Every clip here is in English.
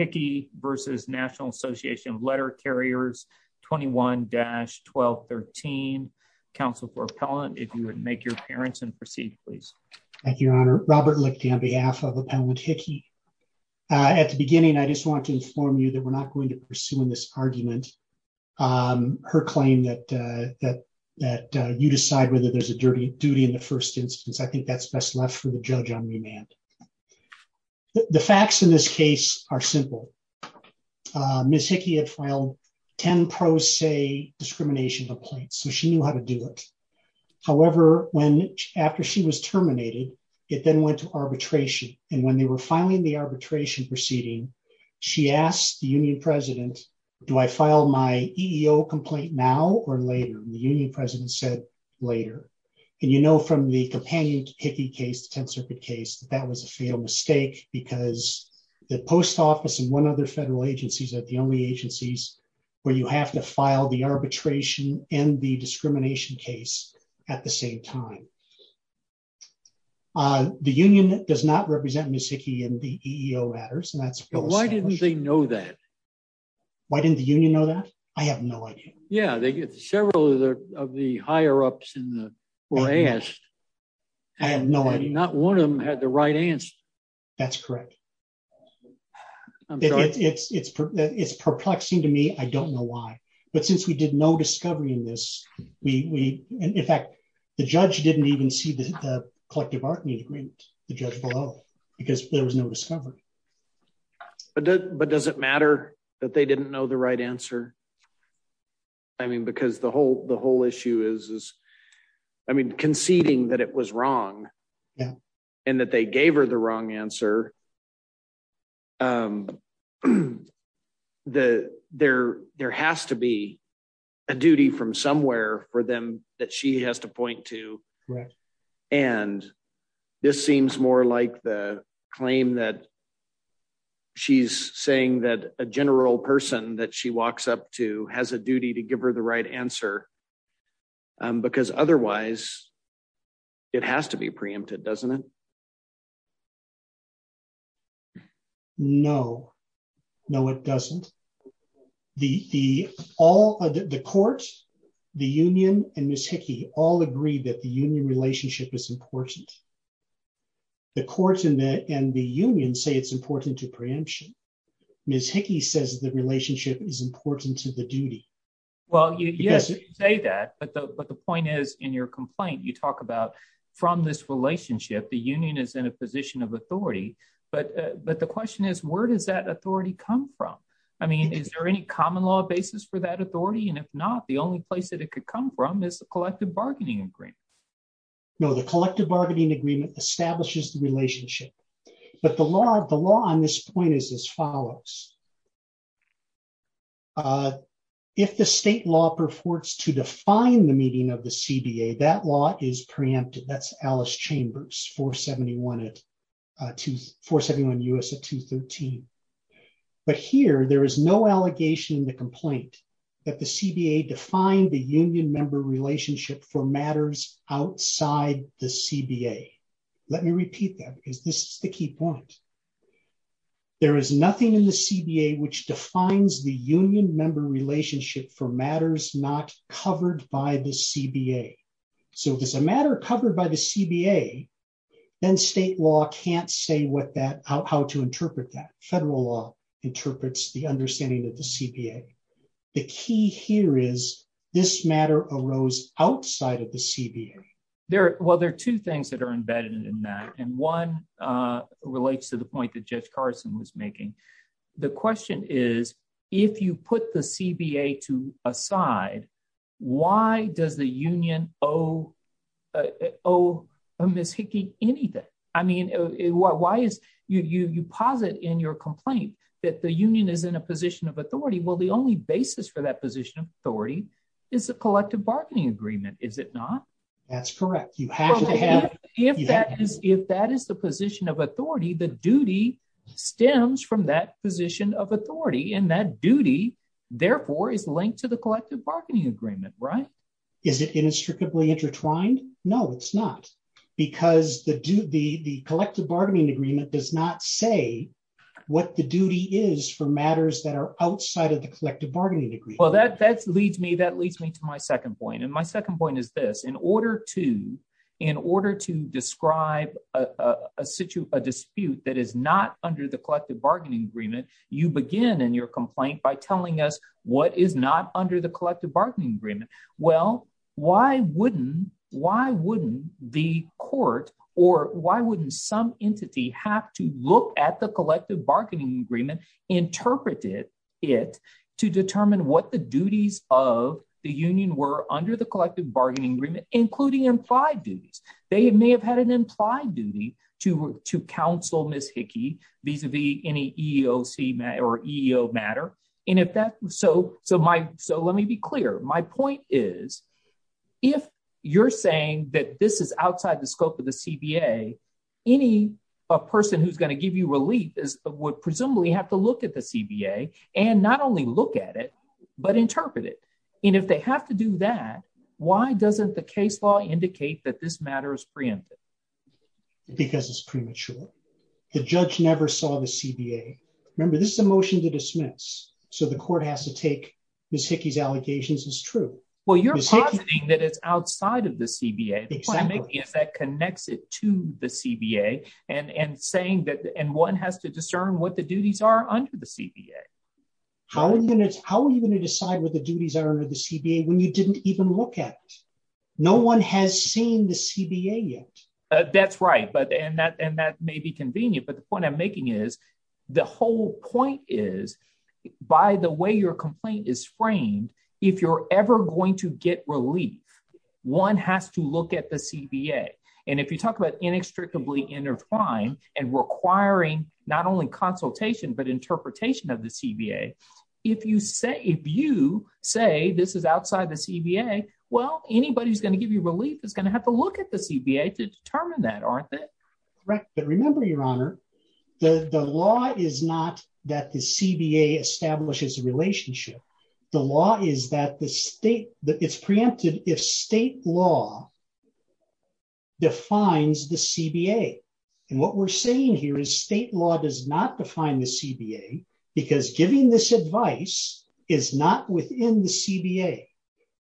21-1213. Council for appellant, if you would make your appearance and proceed, please. Thank you, Your Honor. Robert Lichten on behalf of Appellant Hickey. At the beginning, I just want to inform you that we're not going to pursue in this argument her claim that you decide whether there's a duty in the first instance. I think that's best left for the judge on remand. The facts in this case are simple. Ms. Hickey had filed 10 pro se discrimination complaints, so she knew how to do it. However, after she was terminated, it then went to arbitration. And when they were filing the arbitration proceeding, she asked the union president, do I file my EEO complaint now or later? And the union president said later. And you know from the companion Hickey case, the 10th Circuit case, that was a fatal mistake because the post office and one other federal agencies are the only agencies where you have to file the arbitration and the discrimination case at the same time. The union does not represent Ms. Hickey in the EEO matters. And why didn't they know that? Why didn't the union know that? I have no idea. Yeah, they get several of the higher ups were asked. I have no idea. Not one of them had the right answer. That's correct. It's perplexing to me. I don't know why. But since we did no discovery in this, in fact, the judge didn't even see the collective bargaining agreement, the judge below, because there was no discovery. But does it matter that they didn't know the right answer? I mean, because the whole issue is, I mean, conceding that it was wrong and that they gave her the wrong answer. There has to be a duty from somewhere for them that she has to point to. And this seems more like the claim that she's saying that a general person that she walks up to has a duty to give her the right answer, because otherwise it has to be preempted, doesn't it? No, no, it doesn't. The court, the union and Ms. Hickey all agree that the union relationship is important. The court and the union say it's important to preemption. Ms. Hickey says the relationship is important to the duty. Well, you say that, but the point is in your complaint, you talk about from this relationship, the union is in a position of authority. But the question is, where does that authority come from? I mean, is there any common law basis for that authority? And if not, the only place that it could come from is the collective bargaining agreement. No, the collective bargaining agreement establishes the relationship. But the law on this point is as follows. If the state law purports to define the meeting of the CBA, that law is preempted. That's Alice Chambers 471 U.S. at 213. But here, there is no allegation in the complaint that the CBA defined the union member relationship for matters outside the CBA. Let me repeat that, because this is the key point. There is nothing in the CBA which defines the union member relationship for matters not covered by the CBA. So if there's a matter covered by the CBA, then state law can't say what that, how to interpret that. Federal law interprets the understanding of the CBA. The key here is this matter arose outside of the CBA. Well, there are two things that are embedded in that. And one relates to the point that Judge Carson was making. The question is, if you put the CBA to a side, why does the union owe Ms. Hickey anything? I mean, you posit in your complaint that the union is in a position of authority. Well, the only basis for that position of authority is the collective bargaining agreement, is it not? That's correct. If that is the position of authority, the duty stems from that position of authority. And that duty, therefore, is linked to the collective bargaining agreement, right? Is it inextricably intertwined? No, it's not. Because the collective bargaining agreement does not say what the duty is for matters that are outside of the collective bargaining agreement. Well, that leads me to my second point. And my second point is this. In order to describe a dispute that is not under the collective bargaining agreement, you begin in your complaint by telling us what is not under the collective bargaining agreement. Well, why wouldn't the court or why wouldn't some entity have to look at the collective bargaining agreement, interpreted it to determine what the duties of the union were under the collective bargaining agreement, including implied duties? They may have had an implied duty to counsel Ms. Hickey vis-a-vis any EEOC or EEO matter. So let me be clear. My point is, if you're saying that this is outside the scope of the CBA, any person who's going to give you would presumably have to look at the CBA and not only look at it, but interpret it. And if they have to do that, why doesn't the case law indicate that this matter is preempted? Because it's premature. The judge never saw the CBA. Remember, this is a motion to dismiss. So the court has to take Ms. Hickey's allegations as true. Well, you're positing that it's outside of the CBA. The point I'm making is that connects it to the CBA and one has to discern what the duties are under the CBA. How are you going to decide what the duties are under the CBA when you didn't even look at? No one has seen the CBA yet. That's right. And that may be convenient. But the point I'm making is, the whole point is, by the way your complaint is framed, if you're ever going to get relief, one has to look at the CBA. And if you talk about inextricably intertwined and requiring not only consultation, but interpretation of the CBA, if you say this is outside the CBA, well, anybody who's going to give you relief is going to have to look at the CBA to determine that, aren't they? Correct. But remember, the law is not that the CBA establishes a relationship. The law is that it's preempted if state law defines the CBA. And what we're saying here is state law does not define the CBA because giving this advice is not within the CBA.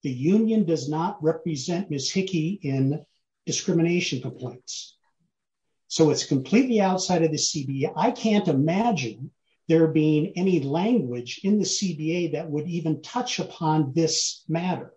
The union does not represent Ms. Hickey in discrimination complaints. So it's completely outside of the CBA. I can't imagine there being any language in the CBA that would even touch upon this matter,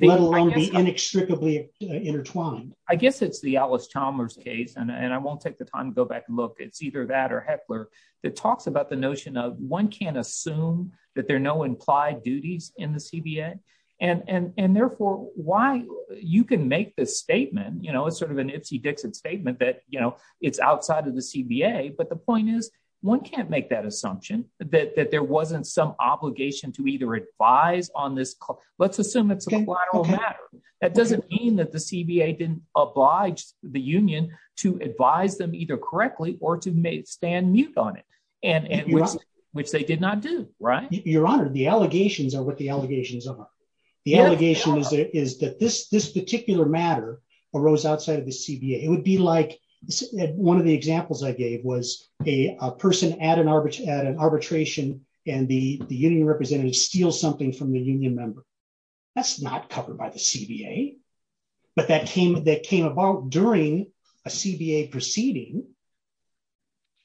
let alone be inextricably intertwined. I guess it's the Alice Chalmers case. And I won't take the time to go back and look. It's either that or Heckler that talks about the notion of one can't assume that there are no implied duties in the CBA. And therefore, why you can make this statement, you know, it's sort of an Ipsy-Dixon statement that, you know, it's outside of the CBA. But the point is, one can't make that assumption that there wasn't some obligation to either advise on this. Let's assume it's a collateral matter. That doesn't mean that the CBA didn't oblige the union to advise them either correctly or to stand mute on it, which they did not do, right? Your Honor, the allegations are what the allegations are. The allegation is that this particular matter arose outside of the CBA. It would be like one of the examples I gave was a person at an arbitration and the union representative steals something from the union member. That's not covered by the CBA. But that came about during a CBA proceeding.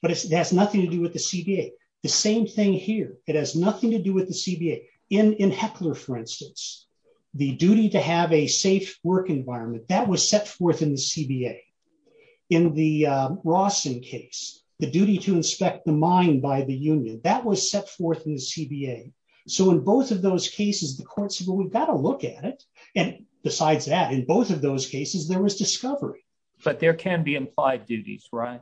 But it has nothing to do with the CBA. The same thing here. It has nothing to do with the CBA. In Heckler, for instance, the duty to have a safe work environment, that was set forth in the CBA. In the Rawson case, the duty to inspect the mine by the union, that was set forth in the CBA. So in both of those cases, the court said, well, we've got to look at it. And besides that, in both of those cases, there was discovery. But there can be implied duties, right?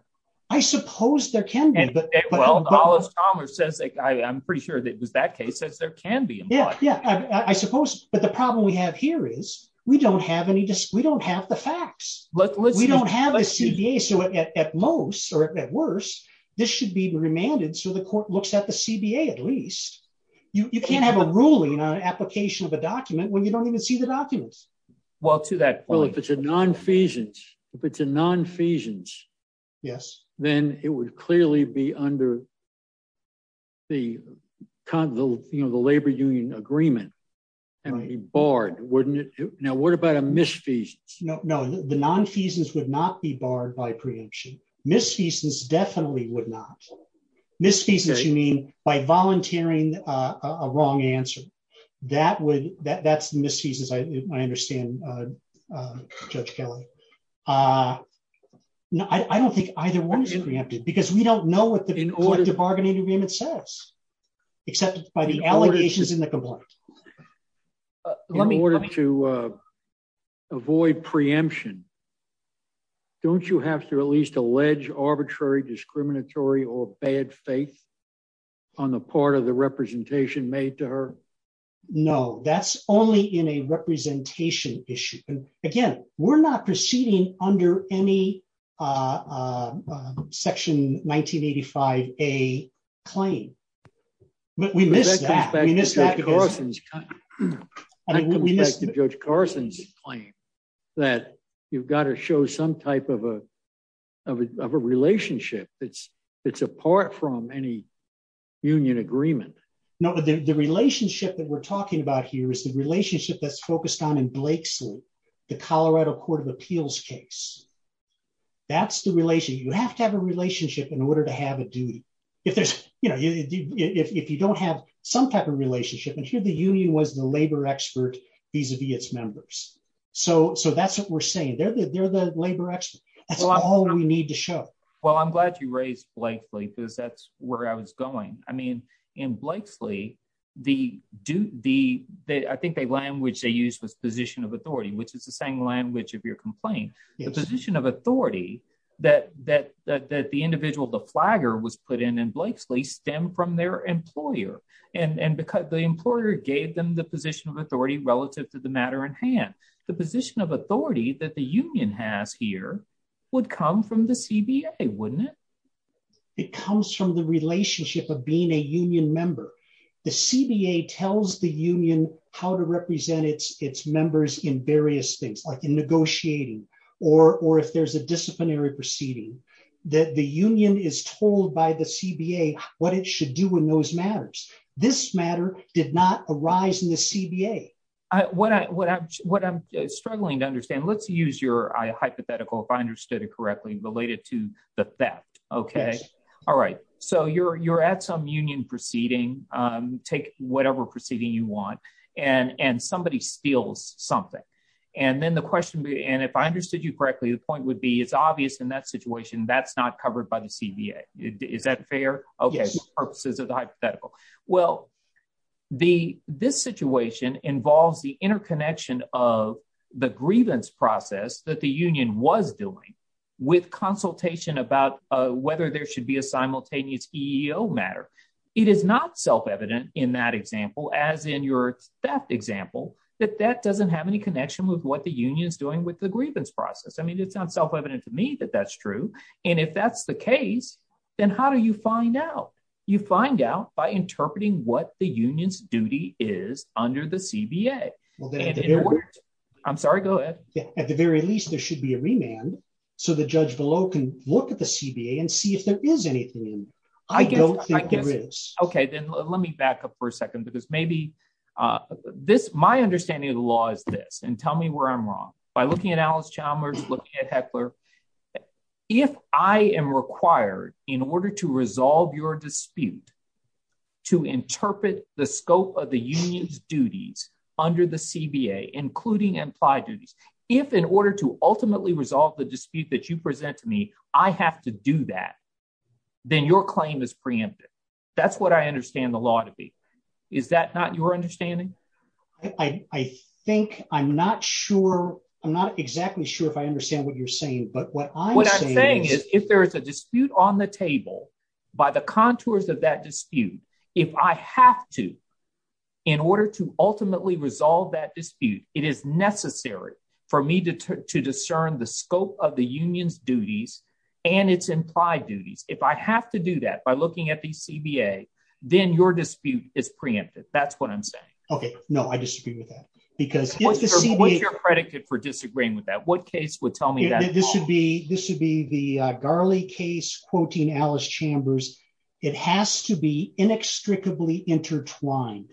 I suppose there can be. And well, Alice Chalmers says, I'm pretty sure it was that case, says there can be. Yeah, yeah, I suppose. But the problem we have here is we don't have any, we don't have the facts. We don't have a CBA. So at most or at worst, this should be remanded. So the court looks at the CBA, at least. You can't have a ruling on an application of a document when you don't even see the documents. Well, to that point, if it's a non-feasance, if it's a non-feasance. Yes. Then it would clearly be under the labor union agreement and be barred, wouldn't it? Now, what about a misfeasance? No, the non-feasance would not be barred by preemption. Misfeasance definitely would not. Misfeasance, you mean by volunteering a wrong answer. That would, that's misfeasance, I understand, Judge Kelly. I don't think either one is preempted because we don't know what the bargaining agreement says, except by the allegations in the complaint. In order to avoid preemption, don't you have to at least allege arbitrary, discriminatory, or bad faith on the part of the representation made to her? No, that's only in a representation issue. Again, we're not proceeding under any section 1985A claim. But we missed that. That comes back to Judge Carson's claim that you've got to show some type of a relationship. It's apart from any union agreement. No, the relationship that we're talking about here is the relationship that's focused on in Blakeslee, the Colorado Court of Appeals case. You have to have a relationship in order to have a duty. If you don't have some type of relationship, and here the union was the labor expert vis-a-vis its members. That's what we're saying. They're the labor expert. That's all we need to show. I'm glad you raised Blakeslee because that's where I was going. In Blakeslee, I think the language they used was position of authority, which is the same language of your complaint. The position of authority that the individual, the flagger, was put in in Blakeslee stemmed from their employer. The employer gave them the position of authority relative to the union. It comes from the relationship of being a union member. The CBA tells the union how to represent its members in various things, like in negotiating or if there's a disciplinary proceeding. The union is told by the CBA what it should do in those matters. This matter did not arise in the CBA. What I'm struggling to understand, let's use your hypothetical, if I understood it correctly, related to the theft. You're at some union proceeding, take whatever proceeding you want, and somebody steals something. If I understood you correctly, the point would be it's obvious in that situation that's not covered by the CBA. Is that fair? This situation involves the interconnection of the grievance process that the union was doing with consultation about whether there should be a simultaneous EEO matter. It is not self-evident in that example, as in your theft example, that that doesn't have any connection with what the union is doing with the grievance process. I mean, it's not self-evident to me that that's true. If that's the case, then how do you find out? You find out by interpreting what the union's duty is under the CBA. I'm sorry, go ahead. At the very least, there should be a remand, so the judge below can look at the CBA and see if there is anything. I don't think there is. Okay, then let me back up for a second, because maybe this, my understanding of the law is this, and tell me where I'm wrong. By looking at Alice Chalmers, looking at Heckler, if I am required, in order to resolve your dispute, to interpret the scope of the union's duties under the CBA, including implied duties, if in order to ultimately resolve the dispute that you present to me, I have to do that, then your claim is preempted. That's what I understand the law to be. Is that not your understanding? I think, I'm not sure, I'm not exactly sure if I understand what you're saying, but what I'm saying is... What I'm saying is, if there is a dispute on the table, by the contours of that dispute, if I have to, in order to ultimately resolve that dispute, it is necessary for me to discern the scope of the union's duties and its implied duties. If I have to do that by looking at the CBA, then your dispute is preempted. That's what I'm saying. Okay, no, I disagree with that, because... What's your predicate for telling me that? This would be the Garley case, quoting Alice Chambers, it has to be inextricably intertwined.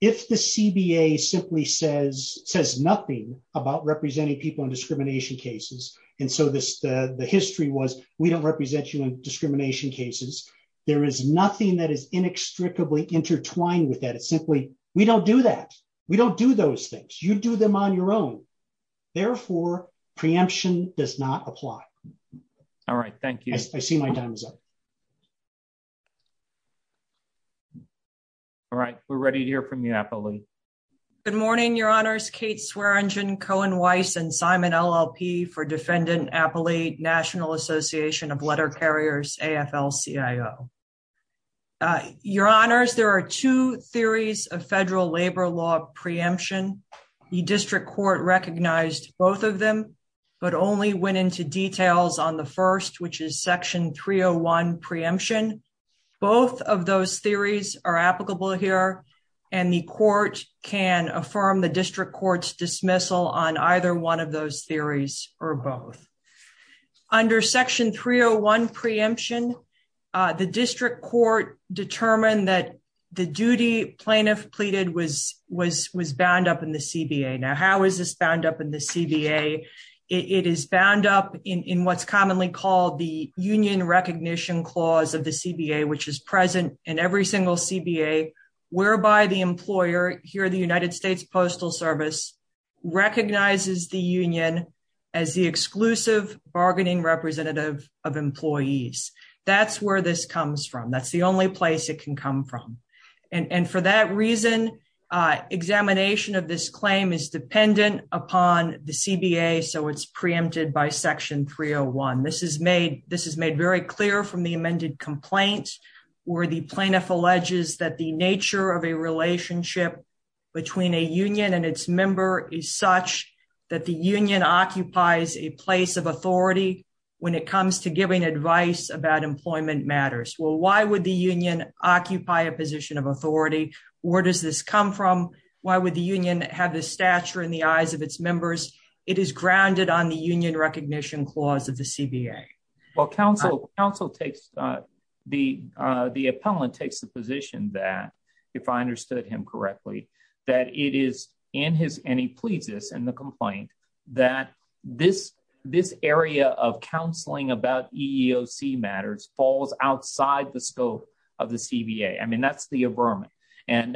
If the CBA simply says nothing about representing people in discrimination cases, and so the history was, we don't represent you in discrimination cases, there is nothing that is inextricably intertwined with that. It's simply, we don't do that. We don't do those things. You do them on your own. Therefore, preemption does not apply. All right, thank you. I see my time is up. All right, we're ready to hear from you, Apolli. Good morning, Your Honors. Kate Swearengin, Cohen Weiss, and Simon LLP for Defendant Apolli, National Association of Letter Carriers, AFL-CIO. Your Honors, there are two theories of federal labor law preemption. The district court recognized both of them, but only went into details on the first, which is Section 301 preemption. Both of those theories are applicable here, and the court can affirm the district court's dismissal on either one of those theories, or both. Under Section 301 preemption, the district court determined that the duty plaintiff pleaded was bound up in the CBA. Now, how is this bound up in the CBA? It is bound up in what's commonly called the union recognition clause of the CBA, which is present in every single CBA, whereby the employer here, the United States Postal Service, recognizes the union as the exclusive bargaining representative of employees. That's where this comes from. That's the only place it can come from. For that reason, examination of this claim is dependent upon the CBA, so it's preempted by Section 301. This is made very clear from the amended complaint, where the plaintiff alleges that the nature of a relationship between a union and its member is such that the union occupies a position of authority when it comes to giving advice about employment matters. Well, why would the union occupy a position of authority? Where does this come from? Why would the union have the stature in the eyes of its members? It is grounded on the union recognition clause of the CBA. Well, the appellant takes the position that, if I understood him correctly, that it is in his, and he pleads this in the complaint, that this area of counseling about EEOC matters falls outside the scope of the CBA. I mean, that's the aberment. And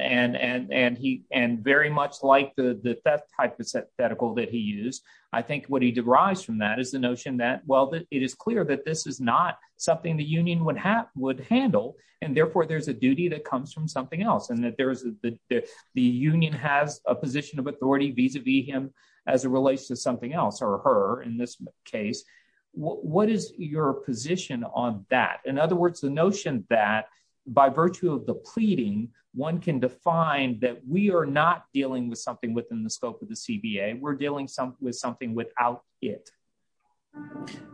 very much like the theft hypothetical that he used, I think what he derives from that is the notion that, well, it is clear that this is not something the union would handle, and therefore there's a duty that comes from something else, and that the union has a position of authority vis-a-vis him as it relates to something else, or her in this case. What is your position on that? In other words, the notion that, by virtue of the pleading, one can define that we are not dealing with something within the scope of the CBA. We're dealing with something without it.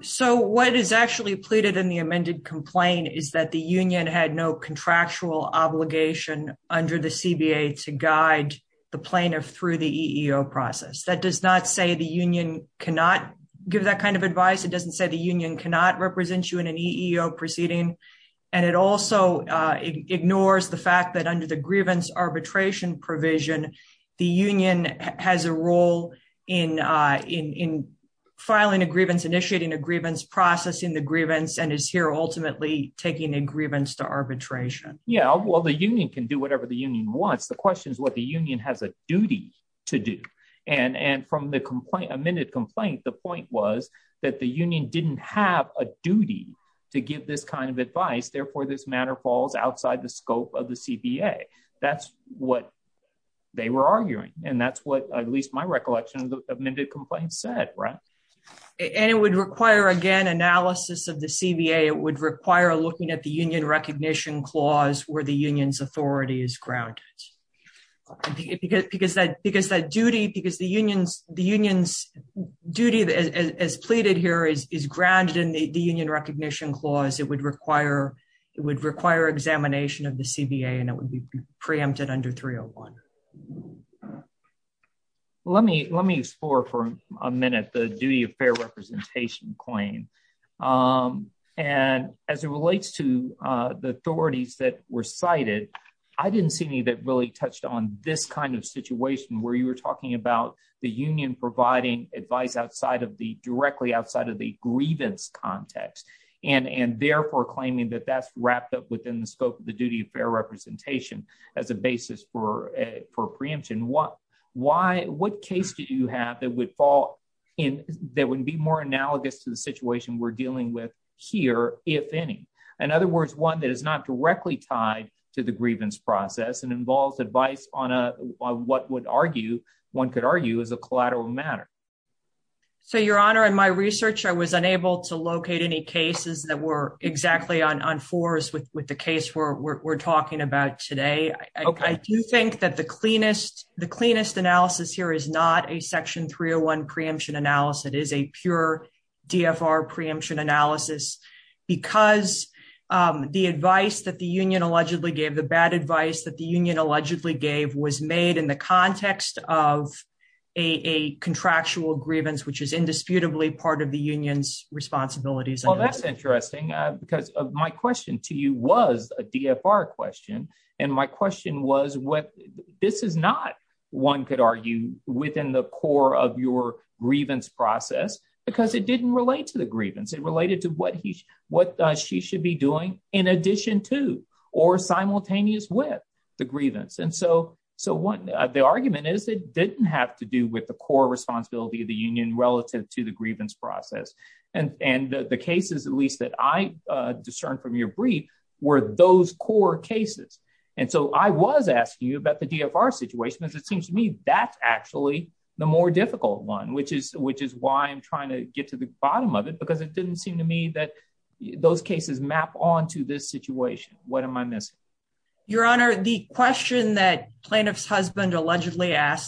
So what is actually pleaded in the amended complaint is the union had no contractual obligation under the CBA to guide the plaintiff through the EEO process. That does not say the union cannot give that kind of advice. It doesn't say the union cannot represent you in an EEO proceeding. And it also ignores the fact that, under the grievance arbitration provision, the union has a role in filing a grievance, initiating a grievance, processing the grievance, and is here, ultimately, taking a grievance to arbitration. Yeah, well, the union can do whatever the union wants. The question is what the union has a duty to do. And from the amended complaint, the point was that the union didn't have a duty to give this kind of advice. Therefore, this matter falls outside the scope of the CBA. That's what they were arguing. And that's what, at least my recollection, the amended complaint said, right? And it would require, again, analysis of the CBA. It would require looking at the union recognition clause where the union's authority is grounded. Because that duty, because the union's duty as pleaded here is grounded in the union recognition clause, it would require examination of the CBA. And it would be preempted under 301. Well, let me explore for a minute the duty of fair representation claim. And as it relates to the authorities that were cited, I didn't see any that really touched on this kind of situation where you were talking about the union providing advice directly outside of the grievance context. And therefore, claiming that that's wrapped up within the scope of the preemption, what case did you have that would fall in, that would be more analogous to the situation we're dealing with here, if any? In other words, one that is not directly tied to the grievance process and involves advice on what one could argue is a collateral matter. So, Your Honor, in my research, I was unable to locate any cases that were exactly on fours with the case we're talking about today. I do think that the cleanest analysis here is not a section 301 preemption analysis. It is a pure DFR preemption analysis. Because the advice that the union allegedly gave, the bad advice that the union allegedly gave was made in the context of a contractual grievance, which is indisputably part of the union's responsibilities. Well, that's interesting, because my question to you was a DFR question. And my question was, this is not, one could argue, within the core of your grievance process, because it didn't relate to the grievance. It related to what she should be doing in addition to or simultaneous with the grievance. And so, the argument is it didn't have to do with the core responsibility of the process. And the cases, at least that I discerned from your brief, were those core cases. And so, I was asking you about the DFR situation, because it seems to me that's actually the more difficult one, which is why I'm trying to get to the bottom of it, because it didn't seem to me that those cases map onto this situation. What am I missing? Your Honor, the question that plaintiff's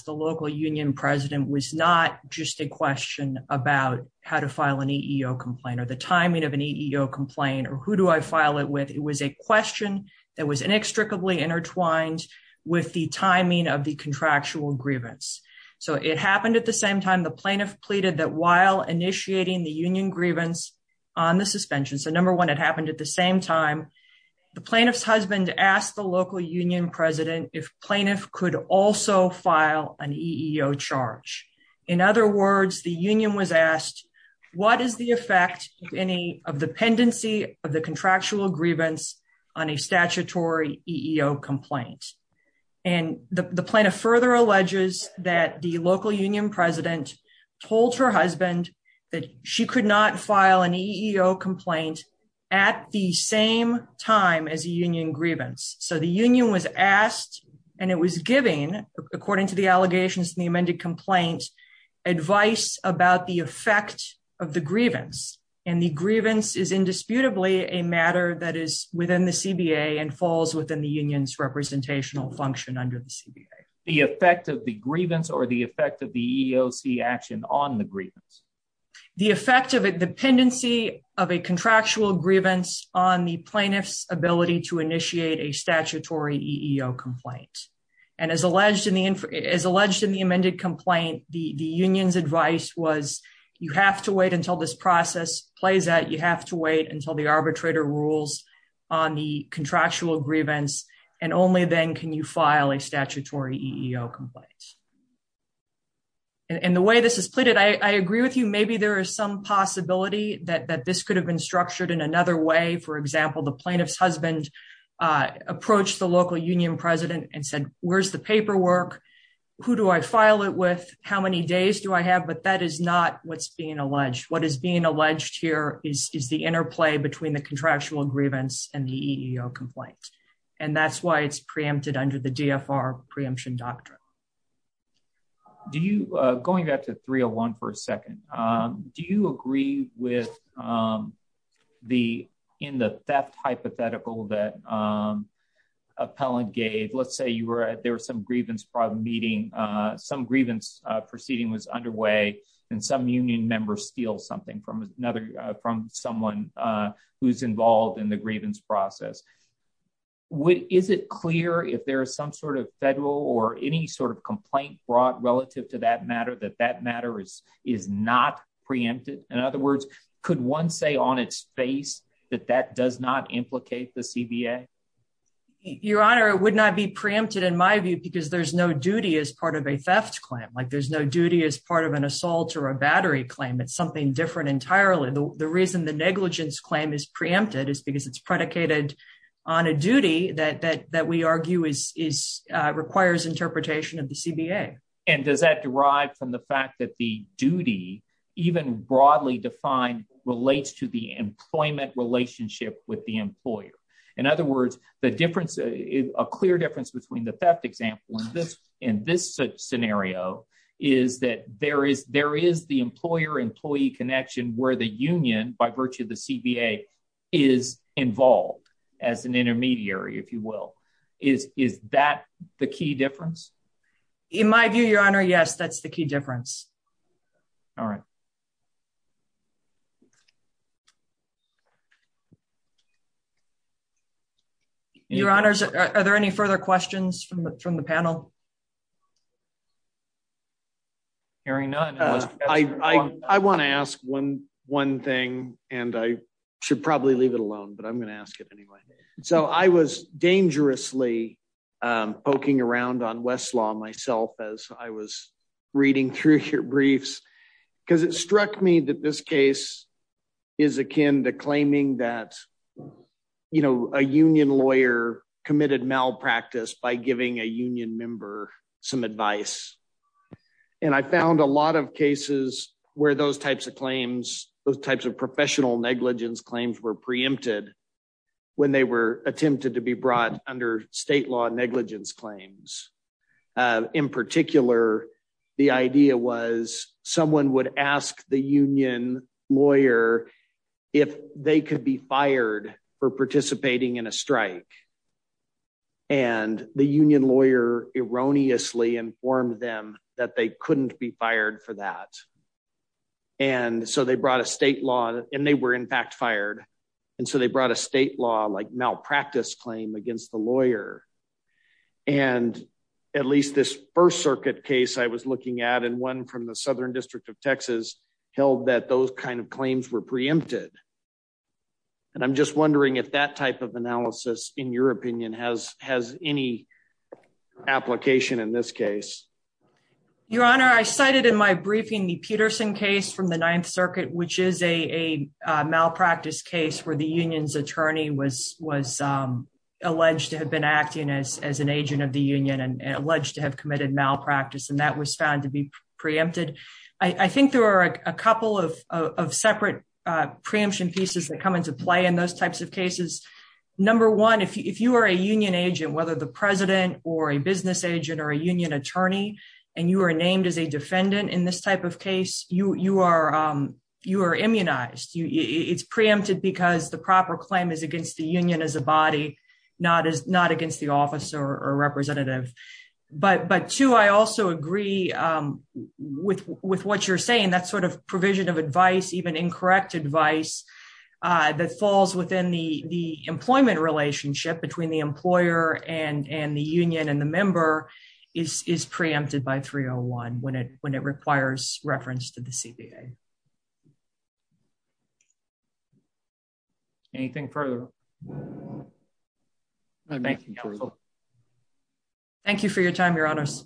local union president was not just a question about how to file an EEO complaint, or the timing of an EEO complaint, or who do I file it with? It was a question that was inextricably intertwined with the timing of the contractual grievance. So, it happened at the same time the plaintiff pleaded that while initiating the union grievance on the suspension, so number one, it happened at the same time, the plaintiff's husband asked the local union president if he could file an EEO charge. In other words, the union was asked, what is the effect of any of the pendency of the contractual grievance on a statutory EEO complaint? And the plaintiff further alleges that the local union president told her husband that she could not file an EEO complaint at the same time as a union grievance. So, the union was asked, and it was giving, according to the allegations in the amended complaint, advice about the effect of the grievance. And the grievance is indisputably a matter that is within the CBA and falls within the union's representational function under the CBA. The effect of the grievance, or the effect of the EEOC action on the grievance? The effect of a dependency of a contractual grievance on the alleged in the amended complaint, the union's advice was, you have to wait until this process plays out. You have to wait until the arbitrator rules on the contractual grievance, and only then can you file a statutory EEO complaint. And the way this is pleaded, I agree with you, maybe there is some possibility that this could have been structured in another way. For example, the who do I file it with? How many days do I have? But that is not what's being alleged. What is being alleged here is the interplay between the contractual grievance and the EEO complaint. And that's why it's preempted under the DFR preemption doctrine. Do you, going back to 301 for a second, do you agree with the, in the theft hypothetical that appellant gave, let's say you were at, there was some grievance meeting, some grievance proceeding was underway, and some union members steal something from another, from someone who's involved in the grievance process. Is it clear if there is some sort of federal or any sort of complaint brought relative to that matter, that that matter is not preempted? In other words, could one say on its face that that does not implicate the CBA? Your Honor, it would not be preempted in my view, because there's no duty as part of a theft claim, like there's no duty as part of an assault or a battery claim. It's something different entirely. The reason the negligence claim is preempted is because it's predicated on a duty that we argue requires interpretation of the CBA. And does that derive from the fact that the duty, even broadly defined, relates to the employment relationship with the employer? In other words, the difference, a clear difference between the theft example in this scenario is that there is the employer-employee connection where the union, by virtue of the CBA, is involved as an intermediary, if you will. Is that the key difference? In my view, Your Honor, yes, that's the key difference. All right. Your Honors, are there any further questions from the panel? I want to ask one thing, and I should probably leave it alone, but I'm going to ask it anyway. So I was dangerously poking around on Westlaw myself as I was reading through your briefs, because it struck me that this case is akin to claiming that a union lawyer committed malpractice by giving a union member some advice. And I found a lot of cases where those types of claims, those types of professional negligence claims were preempted when they were attempted to be brought under state law negligence claims. In particular, the idea was someone would ask the union lawyer if they could be fired for participating in a strike. And the union lawyer erroneously informed them that they couldn't be fired for that. And so they brought a state law, and they were in fact fired. And so they brought a state law like malpractice claim against the lawyer. And at least this First Circuit case I was looking at, and one from the Southern District of Texas, held that those kinds of claims were preempted. And I'm just wondering if that type of analysis, in your opinion, has any application in this case? Your Honor, I cited in my briefing the Peterson case from the Ninth Circuit, which is a malpractice case where the union's attorney was alleged to have been acting as an agent of the union and alleged to have committed malpractice, and that was found to be preempted. I think there are a couple of separate preemption pieces that come into play in those types of cases. Number one, if you are a union agent, whether the president or a business agent or a union attorney, and you are named as a defendant in this type of case, you are immunized. It's preempted because the proper claim is against the union as a body, not against the office or representative. But two, I also agree with what you're saying. That sort of provision of advice, even incorrect advice, that falls within the employment relationship between the employer and the union and the member is preempted by 301 when it requires reference to the CBA. Anything further? Thank you for your time, Your Honors.